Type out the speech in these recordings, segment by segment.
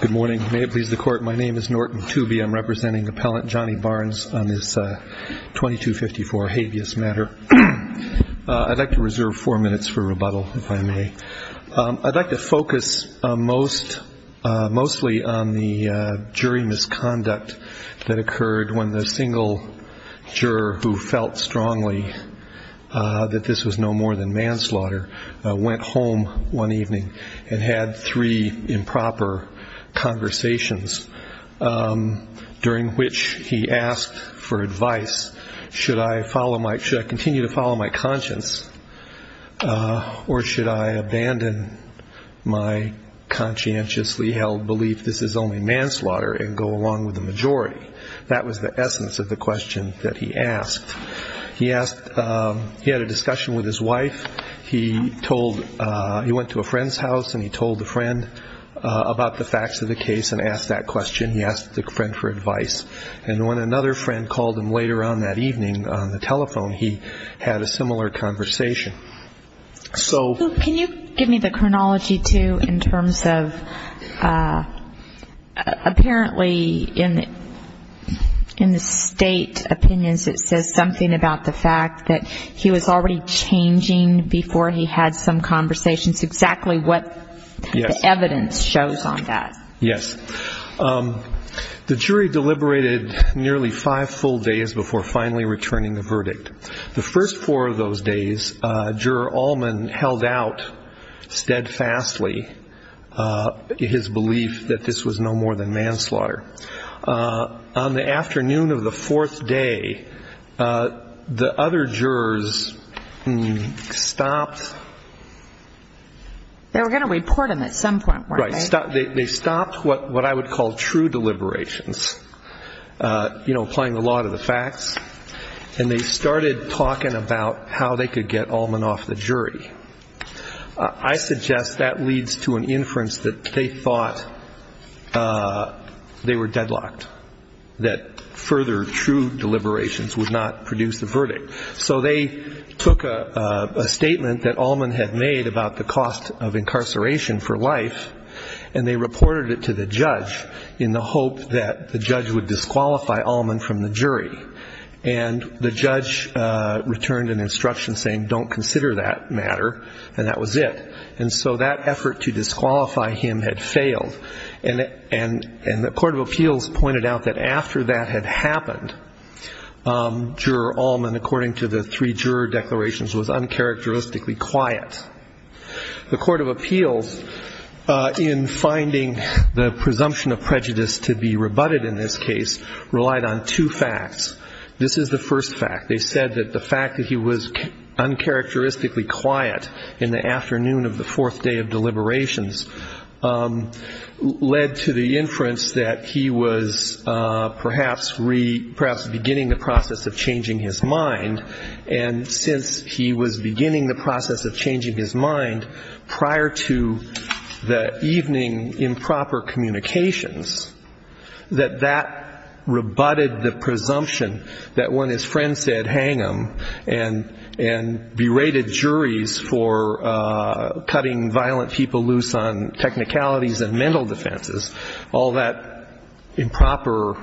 Good morning. May it please the Court. My name is Norton Tooby. I'm representing Appellant Johnny Barnes on this 2254 habeas matter. I'd like to reserve four minutes for rebuttal, if I may. I'd like to focus mostly on the jury misconduct that occurred when the single juror who felt strongly that this was no more than manslaughter went home one evening and had three improper conversations during which he asked for advice. Should I continue to follow my conscience or should I abandon my conscientiously held belief this is only manslaughter and go along with the majority? That was the essence of the case. He went to a friend's house and he told the friend about the facts of the case and asked that question. He asked the friend for advice. And when another friend called him later on that evening on the telephone, he had a similar conversation. So can you give me the chronology, too, in terms of apparently in the state opinions it says something about the fact that he was already changing before he had some conversations, exactly what the evidence shows on that? Yes. The jury deliberated nearly five full days before finally returning the verdict. The first four of those days, Juror Allman held out steadfastly his belief that this was no more than manslaughter. On the afternoon of the fourth day, the other jurors stopped. They were going to report him at some point, weren't they? They stopped what I would call true deliberations, applying the law to the facts, and they started talking about how they could get Allman off the jury. I suggest that leads to an inference that they thought they were deadlocked, that further true deliberations would not produce the verdict. So they took a statement that Allman had made about the cost of incarceration for life, and they reported it to the judge in the hope that the judge would disqualify Allman from the jury. And the judge returned an instruction saying don't consider that matter, and that was it. And so that effort to disqualify him had failed. And the Court of Appeals pointed out that after that had happened, Juror Allman, according to the three juror declarations, was uncharacteristically quiet. The Court of Appeals, in finding the presumption of prejudice to be rebutted in this case, relied on two facts. This is the first fact. They said that the fact that he was uncharacteristically quiet in the afternoon of the night led to the inference that he was perhaps beginning the process of changing his mind, and since he was beginning the process of changing his mind prior to the evening improper communications, that that rebutted the presumption that when his friend said hang him and berated juries for cutting violent people based on technicalities and mental defenses, all that improper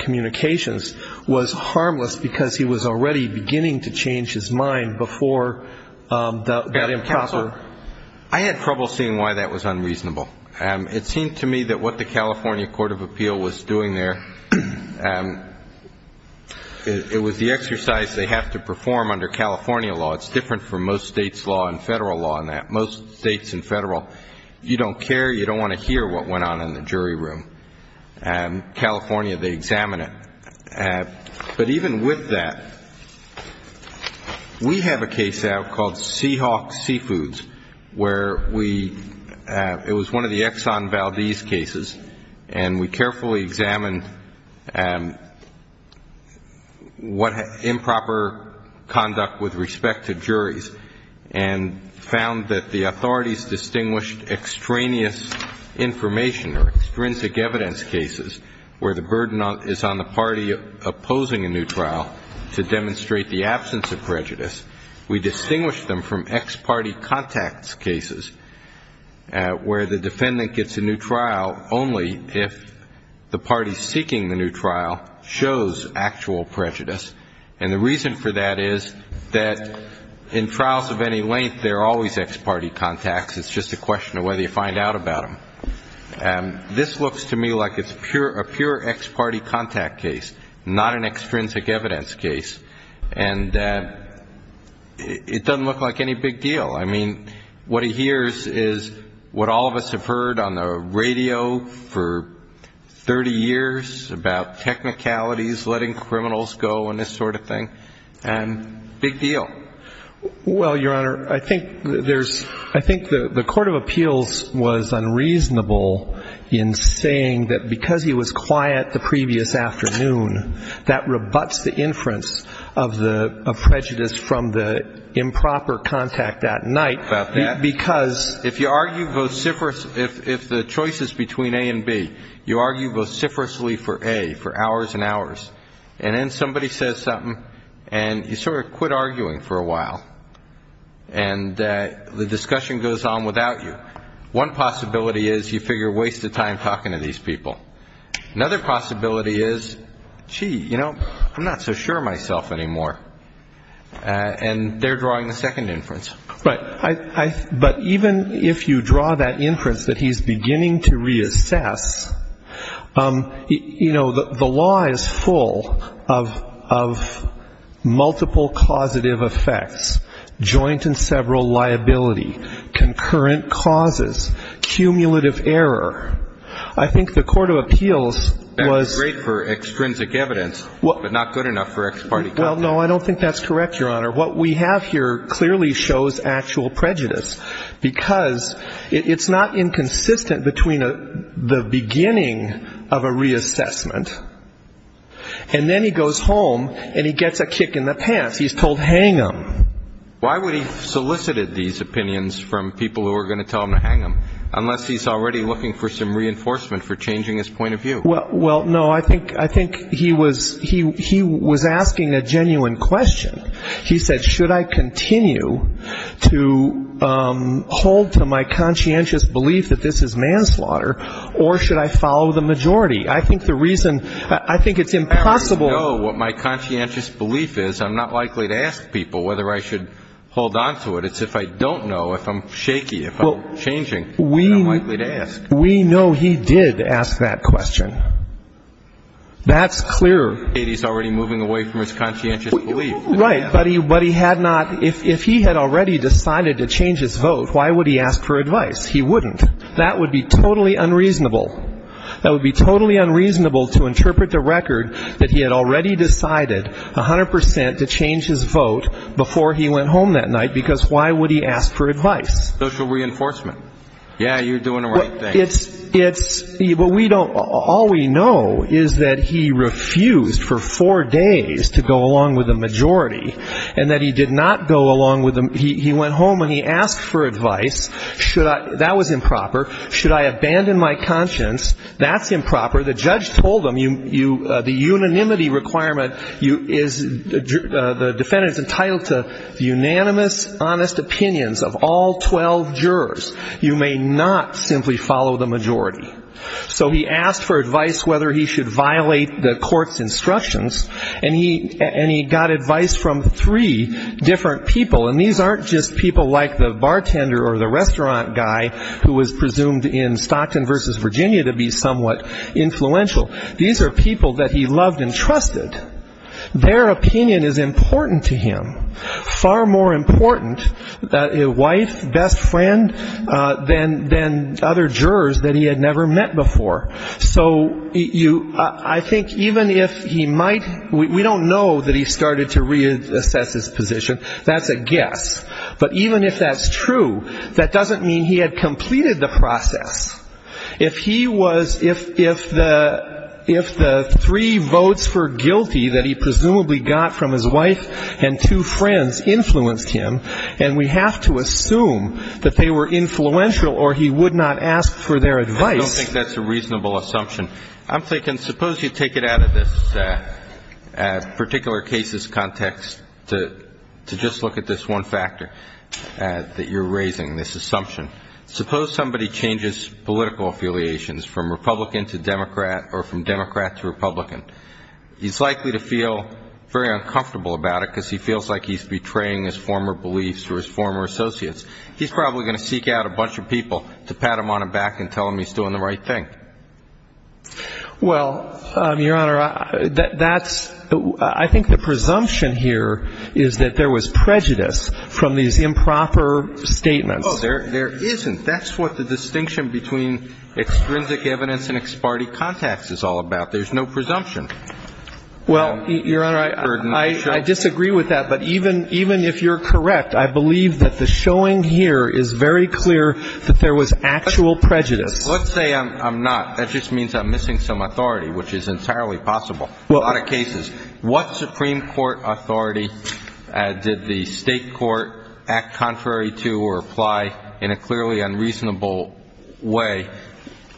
communications was harmless because he was already beginning to change his mind before that improper... I had trouble seeing why that was unreasonable. It seemed to me that what the California Court of Appeal was doing there, it was the exercise they have to perform under California law. It's different from most states' law and Federal law and that. Most states and Federal, you don't care, you don't want to hear what went on in the jury room. California, they examine it. But even with that, we have a case out called Seahawk Seafoods, where we, it was one of the Exxon Valdez cases, and we carefully examined what improper conduct with respect to juries and found that the authorities distinguished extraneous information or extrinsic evidence cases where the burden is on the party opposing a new trial to demonstrate the absence of prejudice. We distinguished them from ex-party contacts cases where the defendant gets a new trial only if the party seeking the new trial shows actual prejudice. And the reason for that is the fact that in trials of any length, there are always ex-party contacts. It's just a question of whether you find out about them. And this looks to me like it's a pure ex-party contact case, not an extrinsic evidence case. And it doesn't look like any big deal. I mean, what he hears is what all of us have heard on the radio for 30 years about technicalities, letting criminals go and this sort of thing. And big deal Well, Your Honor, I think there's, I think the Court of Appeals was unreasonable in saying that because he was quiet the previous afternoon, that rebuts the inference of the prejudice from the improper contact that night because If you argue vociferously, if the choice is between A and B, you argue vociferously for A, for hours and hours, and then somebody says something and you sort of quit arguing for a while. And the discussion goes on without you. One possibility is you figure, waste of time talking to these people. Another possibility is, gee, you know, I'm not so sure of myself anymore. And they're drawing the second inference. Right. But even if you draw that inference that he's beginning to reassess, you know, the law is full of multiple causative effects, joint and several liability, concurrent causes, cumulative error. I think the Court of Appeals was That's great for extrinsic evidence, but not good enough for ex parte contact. Well, no, I don't think that's correct, Your Honor. What we have here clearly shows actual prejudice, because it's not inconsistent between the beginning of a reassessment and then he goes home and he gets a kick in the pants. He's told hang him. Why would he have solicited these opinions from people who were going to tell him to hang him, unless he's already looking for some reinforcement for changing his point of view? Well, no, I think he was asking a genuine question. He said, should I continue to hold to my conscientious belief that this is manslaughter, or should I follow the majority? I think the reason I think it's impossible As I know what my conscientious belief is, I'm not likely to ask people whether I should hold on to it. It's if I don't know, if I'm shaky, if I'm changing, I'm not likely to ask. We know he did ask that question. That's clear. He's already moving away from his conscientious belief. Right, but he had not, if he had already decided to change his vote, why would he ask for advice? He wouldn't. That would be totally unreasonable. That would be totally unreasonable to interpret the record that he had already decided 100% to change his vote before he went home that night, because why would he ask for advice? Social reinforcement. Yeah, you're doing the right thing. All we know is that he refused for four days to go along with the majority, and that he did not go along with the majority. He went home and he asked for advice. That was improper. Should I abandon my conscience? That's improper. The judge told him, the unanimity requirement, the defendant is entitled to unanimous, honest opinions of all 12 jurors. You may not simply follow the majority. So he asked for advice whether he should violate the court's instructions, and he got advice from three different people. And these aren't just people like the bartender or the restaurant guy who was presumed in Stockton v. Virginia to be somewhat influential. These are people that he loved and trusted. Their opinion is important to him. Far more important, a wife, best friend, than other jurors that he had never met before. So I think even if he might, we don't know that he started to reassess his position. That's a guess. But even if that's true, that doesn't mean he had completed the process. If he was, if the three votes for guilty that he presumably got from his wife and two friends influenced him, and we have to assume that they were influential or he would not ask for their advice. I don't think that's a reasonable assumption. I'm thinking suppose you take it out of this particular case's context to just look at this one factor that you're raising, this assumption. Suppose somebody changes political affiliations from Republican to Democrat or from Democrat to Republican. He's likely to feel very uncomfortable about it because he feels like he's betraying his former beliefs or his former associates. He's probably going to seek out a bunch of people to pat him on the back and tell him he's doing the right thing. Well, Your Honor, that's, I think the presumption here is that there was prejudice from these improper statements. Oh, there isn't. That's what the distinction between extrinsic evidence and ex parte context is all about. There's no presumption. Well, Your Honor, I disagree with that, but even if you're correct, I believe that the showing here is very clear that there was actual prejudice. Let's say I'm not. That just means I'm missing some authority, which is entirely possible in a lot of cases. What Supreme Court authority did the state court act contrary to or apply in a clearly unreasonable way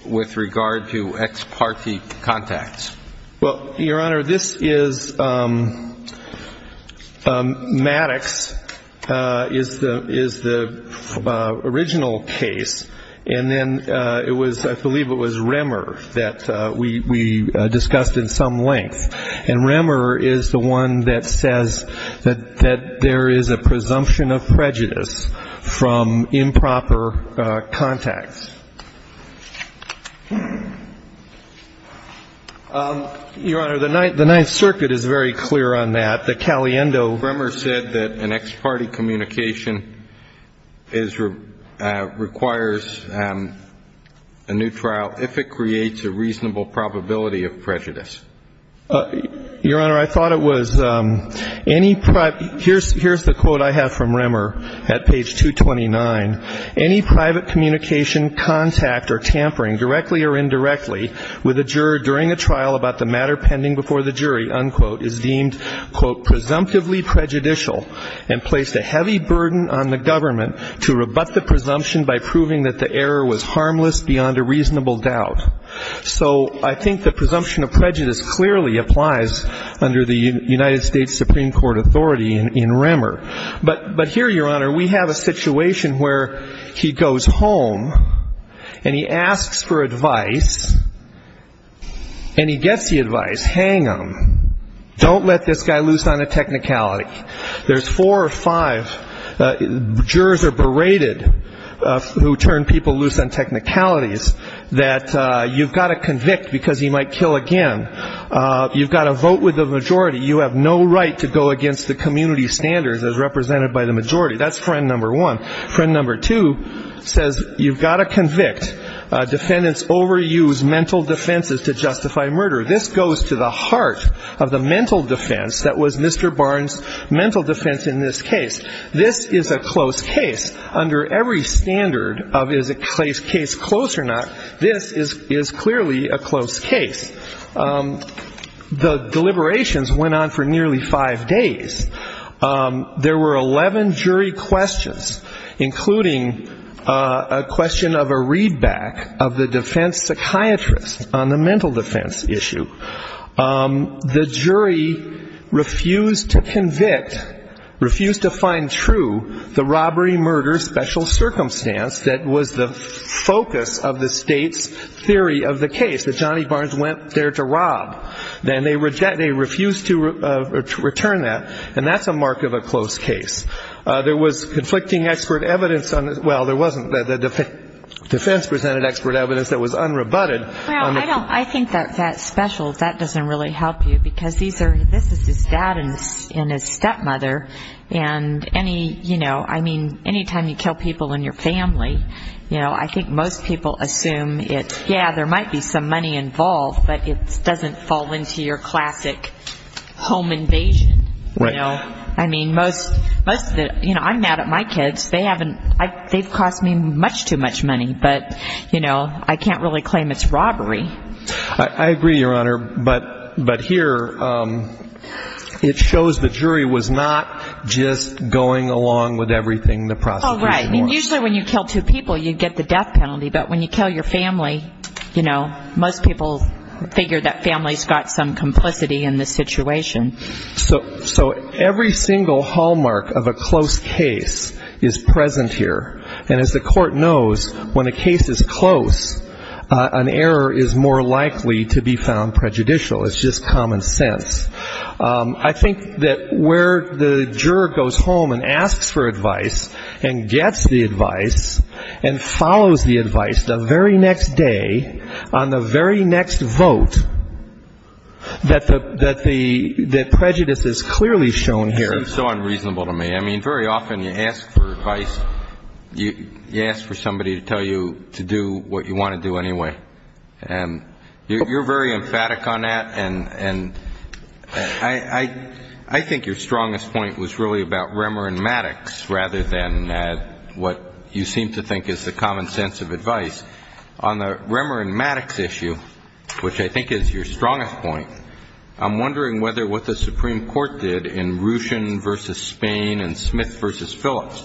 with regard to ex parte context? Well, Your Honor, this is, Maddox is the original case. And then it was, I believe it was Remmer that we discussed in some length. And Remmer is the one that says that there is a presumption of prejudice from improper context. Your Honor, the Ninth Circuit is very clear on that. The Caliendo. Remmer said that an ex parte communication is, requires a new trial if it creates a reasonable probability of prejudice. Your Honor, I thought it was any, here's the quote I have from Remmer at page 229. Any private communication, contact or tampering directly or indirectly with a juror during a trial about the matter pending before the jury, unquote, is deemed, quote, presumptively prejudicial and placed a heavy burden on the government to rebut the presumption by proving that the error was harmless beyond a reasonable doubt. So I think the presumption of prejudice clearly applies under the United States Supreme Court authority in Remmer. But here, Your Honor, we have a situation where he goes home and he asks for advice, and he gets the advice. Hang him. Don't let this guy loose on a technicality. There's four or five jurors are berated who turn people loose on technicalities that you've got to convict because he might kill again. You've got to vote with the majority. You have no right to go against the community standards as represented by the majority. That's friend number one. Friend number two says you've got to convict. Defendants overuse mental defenses to justify murder. This goes to the heart of the mental defense that was Mr. Barnes' mental defense in this case. This is a close case. Under every standard of is a case close or not, this is clearly a close case. The deliberations went on for nearly five days. There were 11 jury questions. Including a question of a readback of the defense psychiatrist on the mental defense issue. The jury refused to convict, refused to find true the robbery murder special circumstance that was the focus of the state's theory of the case, that Johnny Barnes went there to rob. Then they refused to return that, and that's a mark of a close case. There was conflicting expert evidence. Well, there wasn't. The defense presented expert evidence that was unrebutted. I think that special, that doesn't really help you because this is his dad and his stepmother, and any, you know, I mean, any time you kill people in your family, I think most people assume it's, yeah, there might be some money involved, but it doesn't fall into your classic home invasion. You know, I mean, most of the, you know, I'm mad at my kids. They haven't, they've cost me much too much money, but, you know, I can't really claim it's robbery. I agree, Your Honor, but here it shows the jury was not just going along with everything the prosecution wanted. Oh, right. I mean, usually when you kill two people, you get the death penalty, but when you kill your family, you know, most people figure that family's got some complicity in the situation. So every single hallmark of a close case is present here, and as the court knows, when a case is close, an error is more likely to be found prejudicial. It's just common sense. I think that where the juror goes home and asks for advice and gets the advice and follows the advice, the very next day, on the very next vote, that the prejudice is closed because it's clearly shown here. That seems so unreasonable to me. I mean, very often you ask for advice, you ask for somebody to tell you to do what you want to do anyway, and you're very emphatic on that, and I think your strongest point was really about Remer and Maddox rather than what you seem to think is the common sense of advice. On the Remer and Maddox issue, which I think is your strongest point, I'm wondering whether what the Supreme Court did in the case of Remer and Maddox was that in Ruchin v. Spain and Smith v. Phillips,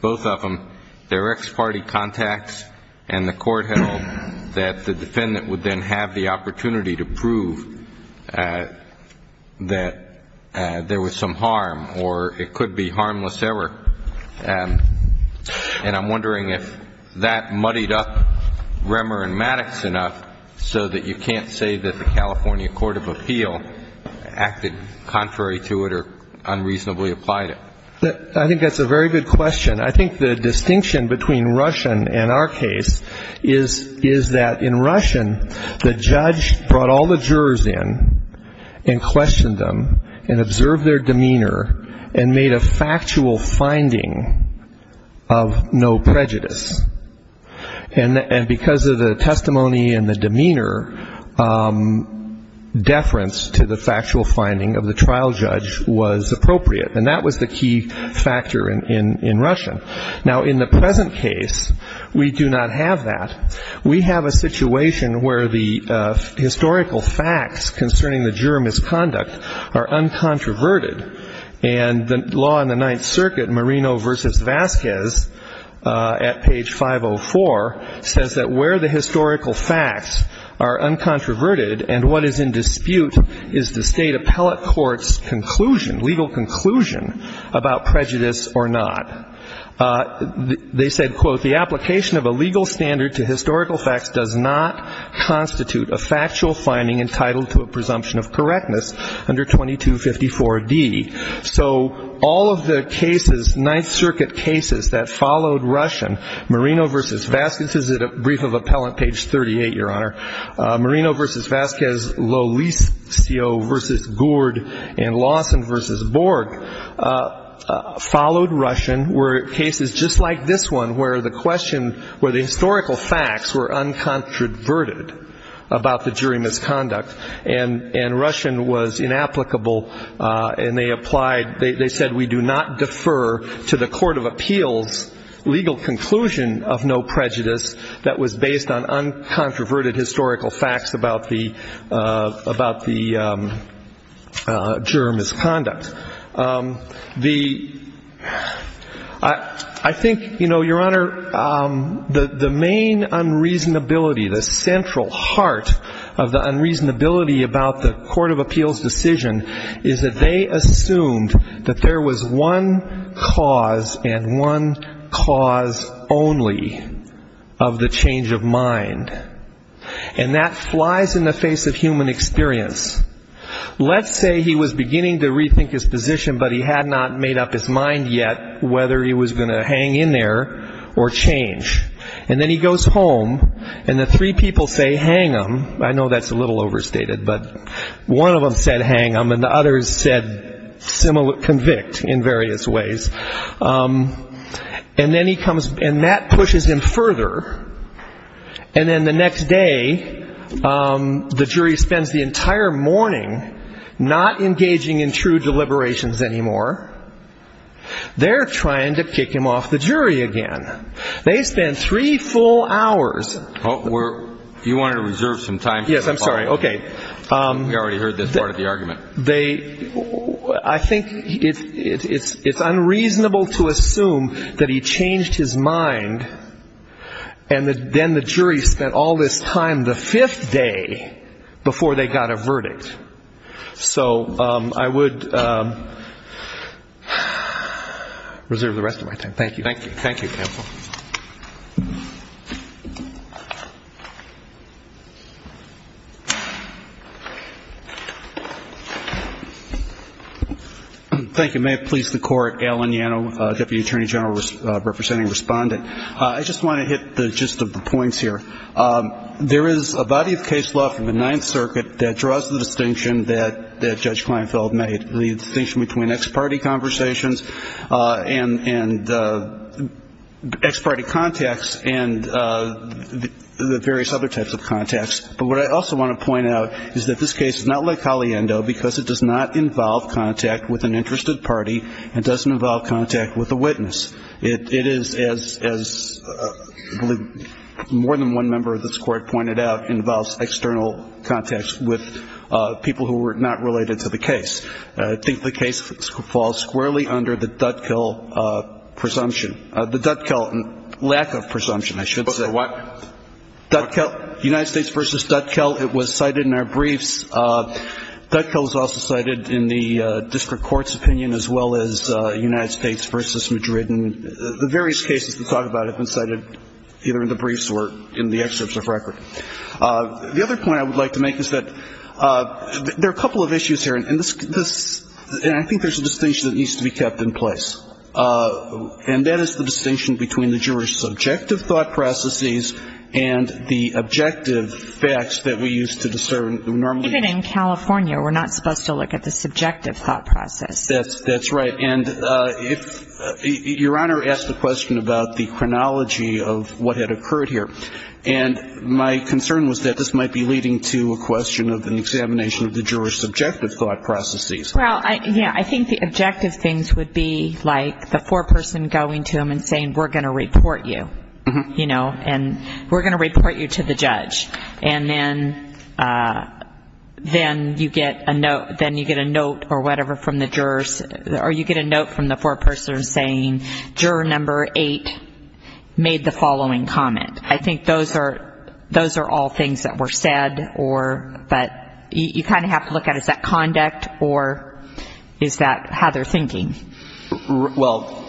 both of them, their ex-party contacts and the court held that the defendant would then have the opportunity to prove that there was some harm or it could be harmless error. And I'm wondering if that muddied up Remer and Maddox enough so that you can't say that the California Court of Appeal acted contrary to it or unreasonably applied it. I think that's a very good question. I think the distinction between Ruchin and our case is that in Ruchin, the judge brought all the jurors in and questioned them and observed their demeanor and made a factual finding of no prejudice, and because of the testimony and the demeanor, deference to the factual finding of the trial judge was appropriate, and that was the key factor in Ruchin. Now, in the present case, we do not have that. We have a situation where the historical facts concerning the juror misconduct are uncontroverted, and the law in the Ninth Circuit, Marino v. Vasquez at page 504, says that where the historical facts are uncontroverted and what is in dispute is the state appellate court's conclusion, legal conclusion, about prejudice or not. They said, quote, the application of a legal standard to historical facts does not constitute a factual finding entitled to a presumption of correctness under 2254D. So all of the cases, Ninth Circuit cases that followed Ruchin, Marino v. Vasquez, Lolicio v. Gourd, and Lawson v. Borg followed Ruchin were cases just like this one where the question, where the historical facts were uncontroverted about the jury misconduct, and Ruchin was inapplicable, and they applied, they said we do not defer to the court of appeals' legal conclusion of no prejudice that was based on uncontroverted historical facts about the juror misconduct. The ‑‑ I think, you know, Your Honor, the main unreasonability, the central heart of the unreasonability about the court of appeals' decision is that they assumed that there was one cause and one cause only of the change of mind, and that flies out of the court of appeals, and it flies in the face of human experience. Let's say he was beginning to rethink his position, but he had not made up his mind yet whether he was going to hang in there or change. And then he goes home, and the three people say hang him. I know that's a little overstated, but one of them said hang him, and the others said convict in various ways. And then he comes ‑‑ and that pushes him further, and then the next day, he goes home, and the three people say hang him, and the jury spends the entire morning not engaging in true deliberations anymore. They're trying to kick him off the jury again. They spend three full hours ‑‑ You wanted to reserve some time for the following. Yes, I'm sorry. Okay. We already heard this part of the argument. They ‑‑ I think it's unreasonable to assume that he changed his mind, and then the jury spent all this time the fifth day before they got a verdict. So I would reserve the rest of my time. Thank you. Thank you. Thank you, counsel. Thank you. May it please the court, Alan Yano, deputy attorney general representing respondent. I just want to hit the gist of this case. This is a case law from the Ninth Circuit that draws the distinction that Judge Kleinfeld made, the distinction between ex‑party conversations and ex‑party contacts and the various other types of contacts. But what I also want to point out is that this case is not le caliendo because it does not involve contact with an interested party and doesn't involve contact with a witness. It is, as I believe more than one member of this court pointed out, involves external contacts with people who were not related to the case. I think the case falls squarely under the Dutkill presumption. The Dutkill lack of presumption, I should say. The what? United States v. Dutkill. It was cited in our briefs. Dutkill is also cited in the district court's opinion as well as United States v. Madrid. And the various cases to talk about have been cited either in the briefs or in the excerpts of record. The other point I would like to make is that there are a couple of issues here, and this ‑‑ and I think there's a distinction that needs to be kept in place. And that is the distinction between the juror's subjective thought processes and the objective facts that we use to discern normally. Even in California, we're not supposed to look at the subjective thought process. That's right. And if ‑‑ your Honor asked a question about the chronology of what had occurred here. And my concern was that this would be leading to a question of an examination of the juror's subjective thought processes. Well, yeah, I think the objective things would be like the foreperson going to him and saying, we're going to report you. And we're going to report you to the judge. And then you get a note or whatever from the jurors, or you get a note from the foreperson saying, juror number eight made the following comment. I think those are all things that were said. But you kind of have to look at is that conduct or is that how they're thinking? Well,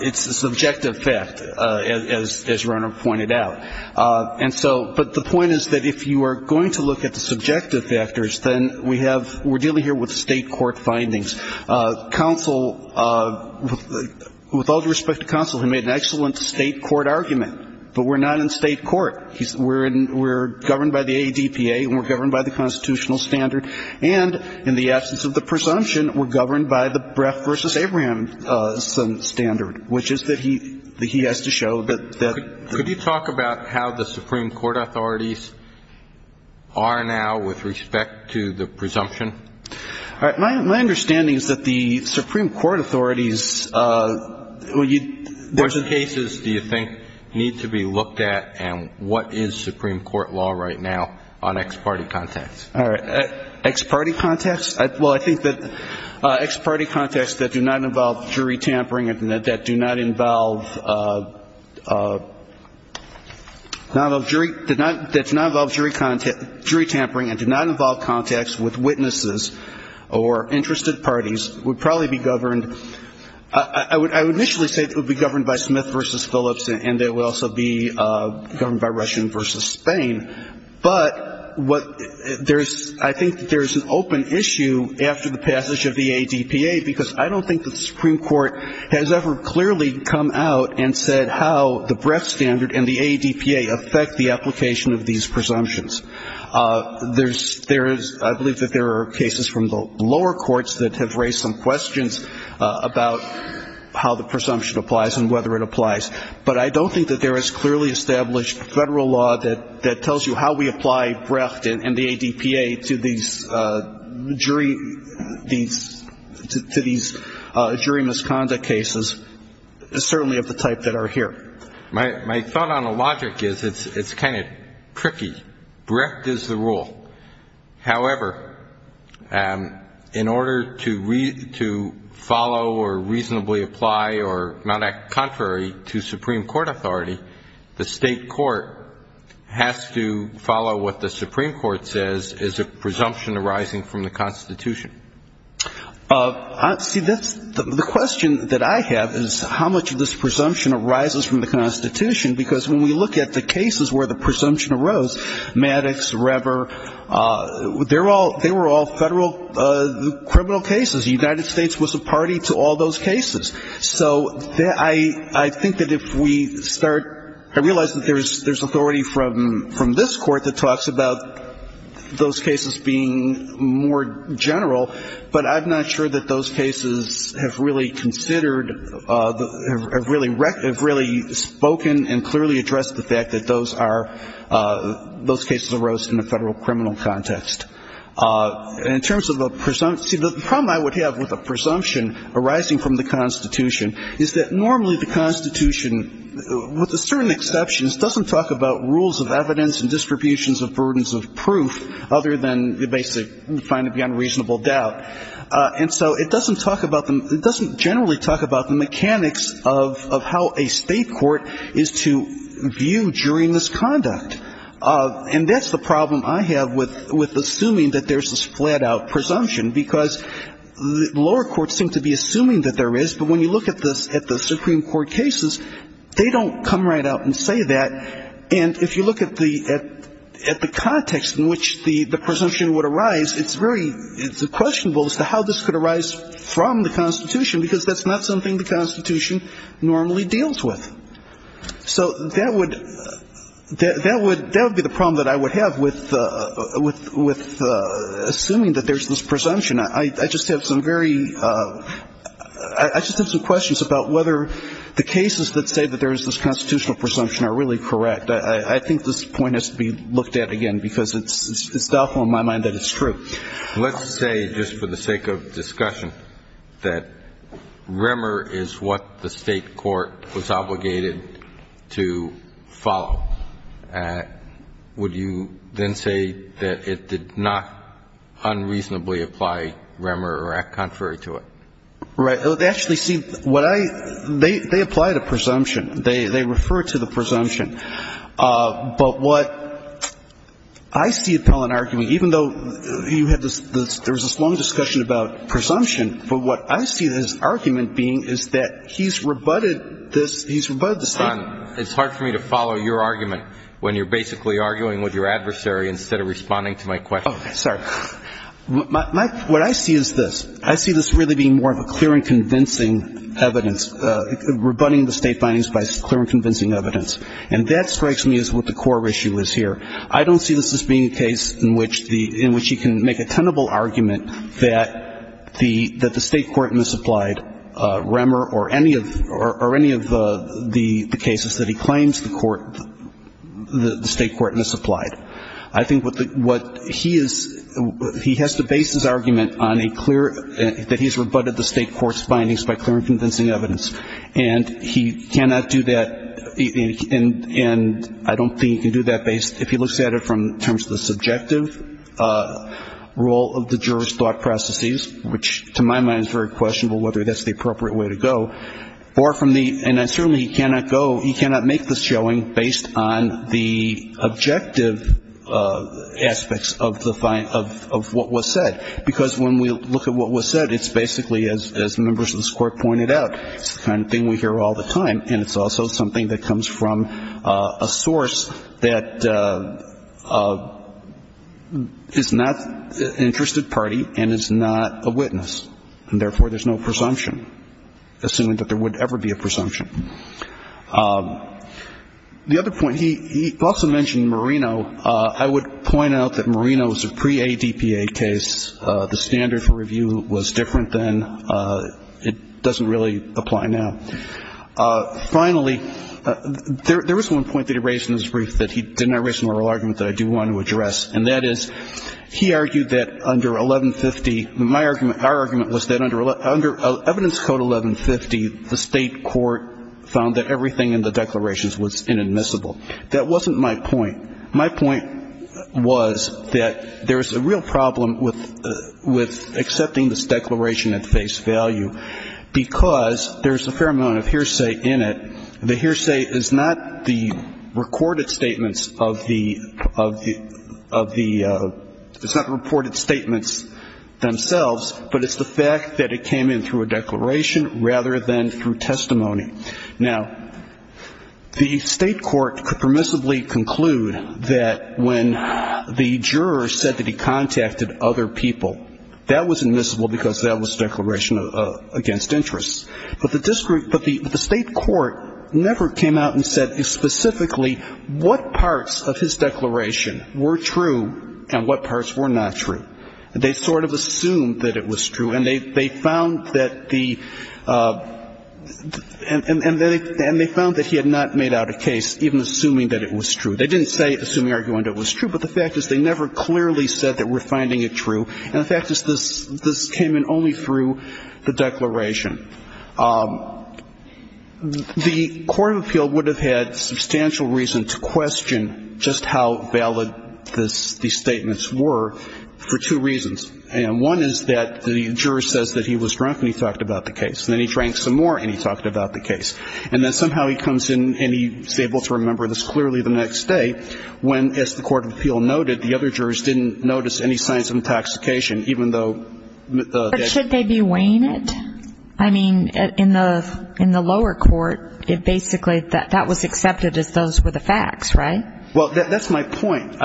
it's a subjective fact, as your Honor pointed out. And so ‑‑ but the point is that if you are going to look at the subjective factors, then we have ‑‑ we're dealing here with state court findings. Counsel, with all due respect to counsel, he made an excellent state court argument. But we're not in state court. We're governed by the ADPA, and we're governed by the constitutional standard. And in the absence of the presumption, we're governed by the Breff v. Abraham standard, which is that he has to show that ‑‑ Could you talk about how the Supreme Court authorities are now with respect to the presumption? All right. My understanding is that the Supreme Court authorities ‑‑ Which cases do you think need to be looked at, and what is Supreme Court law right now on ex‑party contacts? All right. Ex‑party contacts? Well, I think that ex‑party contacts that do not involve jury tampering and that do not involve ‑‑ that do not involve jury tampering and do not involve contacts with witnesses or interested parties would probably be governed ‑‑ I would initially say that it would be governed by Smith v. Phillips, and it would also be governed by Russian v. Spain. But what ‑‑ there is ‑‑ I think there is an open issue after the passage of the ADPA, because I don't think the Supreme Court has ever clearly come out and said how the Breff standard and the ADPA affect the application of these presumptions. There is ‑‑ I believe that there are cases from the lower courts that have raised some questions about how the presumption applies and whether it applies. But I don't think that there is clearly established federal law that tells you how we apply Breff and the ADPA to these jury ‑‑ to these jury misconduct cases, certainly of the type that are here. My thought on the logic is it's kind of tricky. Breff is the rule. However, in order to read ‑‑ to follow or reasonably apply or not act contrary to Supreme Court authority, the state court has to follow what the Supreme Court says is a presumption arising from the Constitution. See, that's ‑‑ the question that I have is how much of this presumption arises from the Constitution, because when we look at the cases where the presumption arose, Maddox, Rever, they were all federal criminal cases. The United States was a party to all those cases. So I think that if we start ‑‑ I realize that there is authority from this court that has to follow, but I'm not sure that those cases have really considered ‑‑ have really spoken and clearly addressed the fact that those are ‑‑ those cases arose in a federal criminal context. In terms of a ‑‑ see, the problem I would have with a presumption arising from the Constitution is that normally the Constitution, with a certain exceptions, doesn't talk about rules of evidence and distributions of burdens of proof other than the basic find it beyond reasonable doubt. And so it doesn't talk about the ‑‑ it doesn't generally talk about the mechanics of how a state court is to view during this conduct. And that's the problem I have with assuming that there's a flat‑out presumption, because the lower courts seem to be assuming that there is, but when you look at the Supreme Court cases, they don't come right out and say that. And if you look at the ‑‑ at the context in which the presumption would arise, it's very ‑‑ it's questionable as to how this could arise from the Constitution, because that's not something the Constitution normally deals with. So that would ‑‑ that would be the problem that I would have with assuming that there's this presumption. I just have some very ‑‑ I just have some questions about whether the cases that say that there is this constitutional presumption are really correct. I think this point has to be looked at again, because it's doubtful in my mind that there is a presumption. Let's say, just for the sake of discussion, that Remmer is what the state court was obligated to follow. Would you then say that it did not unreasonably apply Remmer or act contrary to it? Right. Actually, see, what I ‑‑ they apply the presumption. They refer to the presumption. But what I see is that he's rebutted this ‑‑ he's rebutted the state ‑‑ It's hard for me to follow your argument when you're basically arguing with your adversary instead of responding to my question. Okay. Sorry. What I see is this. I see this really being more of a clear and convincing evidence, rebutting the state findings by clear and convincing evidence. And that strikes me as what the core issue is here. I don't see this as being a case in which he can make a tenable argument that the state court misapplied Remmer or any of the cases that he claims the state court misapplied. I think what he is ‑‑ he has to base his argument on a clear ‑‑ that he's rebutted the state court's findings by clear and convincing evidence. And he cannot do that, and I don't think he can do that based ‑‑ if he looks at it from the terms of the subjective role of the juror's thought processes, which to my mind is very questionable whether that's the appropriate way to go, or from the ‑‑ and certainly he cannot go, he cannot make this showing based on the objective aspects of the ‑‑ of what was said. Because when we look at what was said, it's basically, as members of this court pointed out, it's the kind of thing we hear all the time. And it's also something that comes from a source that is not an interested party and is not a witness. And therefore, there's no presumption, assuming that there would ever be a presumption. The other point, he also mentioned Marino. I would point out that Marino is a pre‑ADPA case. The standard for review was different then. It doesn't really apply now. Finally, there was one point that he raised in his brief that he did not raise in the oral argument that I do want to address. And that is, he argued that under 1150, my argument ‑‑ our argument was that under evidence code 1150, the state court found that everything in the declarations was inadmissible. That wasn't my point. My point was that there's a real problem with accepting this declaration at face value, because there's a fair amount of evidence in the state court and a fair amount of hearsay in it. The hearsay is not the recorded statements of the ‑‑ it's not the reported statements themselves, but it's the fact that it came in through a declaration rather than through testimony. Now, the state court could permissibly conclude that when the juror said that he contacted other people, that was inadmissible, because that was a declaration against interest. But the district ‑‑ but the state court never came out and said specifically what parts of his declaration were true and what parts were not true. They sort of assumed that it was true. And they found that the ‑‑ and they found that he had not made out a case even assuming that it was true. They didn't say assuming argument it was true, but the fact is they never clearly said that we're finding it true. And the fact is this came in only through the declaration. The court of appeal would have had substantial reason to question just how valid these statements were for two reasons. And one is that the juror says that he was drunk and he talked about the case. And then he drank some more and he talked about the case. And then somehow he comes in and he's able to remember this clearly the next day, when, as the court of appeal noted, the other jurors didn't notice any signs of intoxication, even though ‑‑ But should they be waned? I mean, in the lower court, it basically ‑‑ that was accepted as those were the facts, right? Well, that's my point.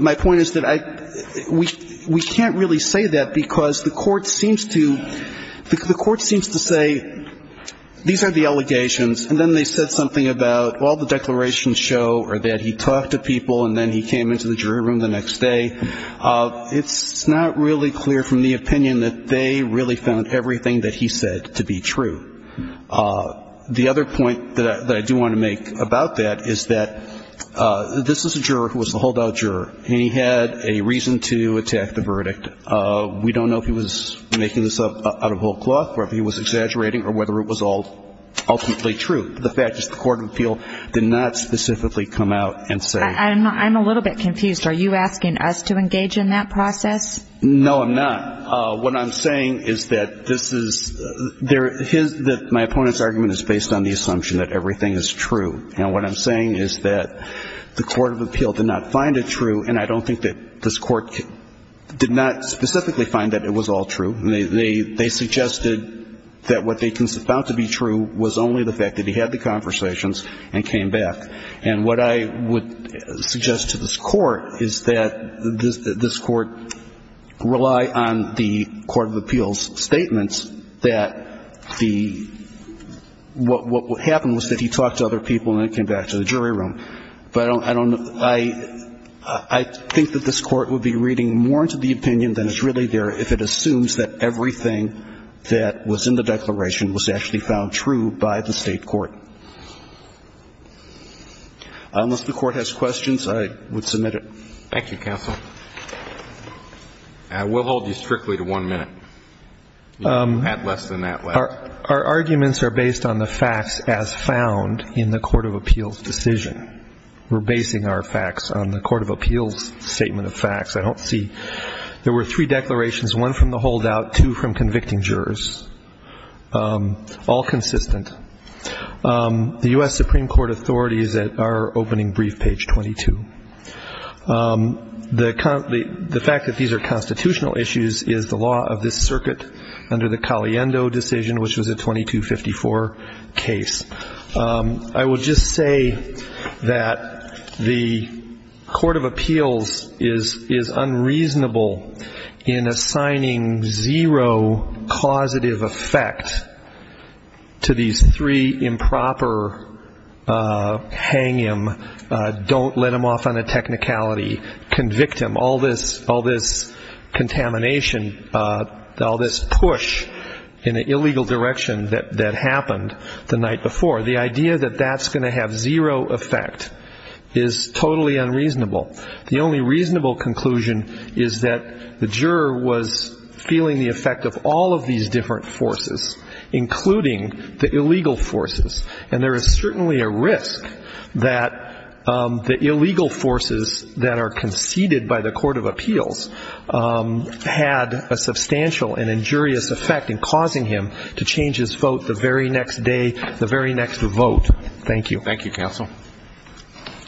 My point is that I ‑‑ we can't really say that, because the court seems to ‑‑ the court seems to say these are the allegations, and then they said something about, well, the declarations show that he talked to someone and he came into the jury room the next day. It's not really clear from the opinion that they really found everything that he said to be true. The other point that I do want to make about that is that this is a juror who was the holdout juror, and he had a reason to attack the verdict. We don't know if he was making this up out of whole cloth or if he was exaggerating or whether it was all ultimately true. The fact is the court of appeal did not specifically come out and say ‑‑ I'm a little bit confused. Are you asking us to engage in that process? No, I'm not. What I'm saying is that this is ‑‑ my opponent's argument is based on the assumption that everything is true. And what I'm saying is that the court of appeal did not find it true, and I don't think that this court did not specifically find that it was all true. They suggested that what they found to be true was only the fact that he had the conversations and came back. And what I would suggest to this court is that this court rely on the court of appeals statements that the ‑‑ what would happen was that he talked to other people and then came back to the jury room. But I don't ‑‑ I think that this court would be reading more into the opinion than is really there if it assumes that everything that was in the case was true. Unless the court has questions, I would submit it. Thank you, counsel. We'll hold you strictly to one minute. You have less than that left. Our arguments are based on the facts as found in the court of appeals decision. We're basing our facts on the court of appeals statement of facts. I don't see ‑‑ there were three declarations, one from the holdout, two from convicting jurors, all consistent. The U.S. Supreme Court authorities are opening brief page 22. The fact that these are constitutional issues is the law of this circuit under the Caliendo decision, which was a 2254 case. I would just say that the court of appeals is unreasonable in assigning zero causative evidence to the court of appeals. It's unreasonable in assigning zero causative effect to these three improper hang him, don't let him off on a technicality, convict him, all this contamination, all this push in an illegal direction that happened the night before. The idea that that's going to have zero effect is totally unreasonable. The only reasonable conclusion is that the juror was feeling the effect of all of these different forces, including the illegal forces. And there is certainly a risk that the illegal forces that are conceded by the court of appeals had a substantial and injurious effect in causing him to change his vote the very next day, the very next vote. Thank you. Thank you, counsel. Thank you, counsel. Thank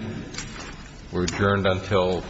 you, counsel. Thank you, counsel.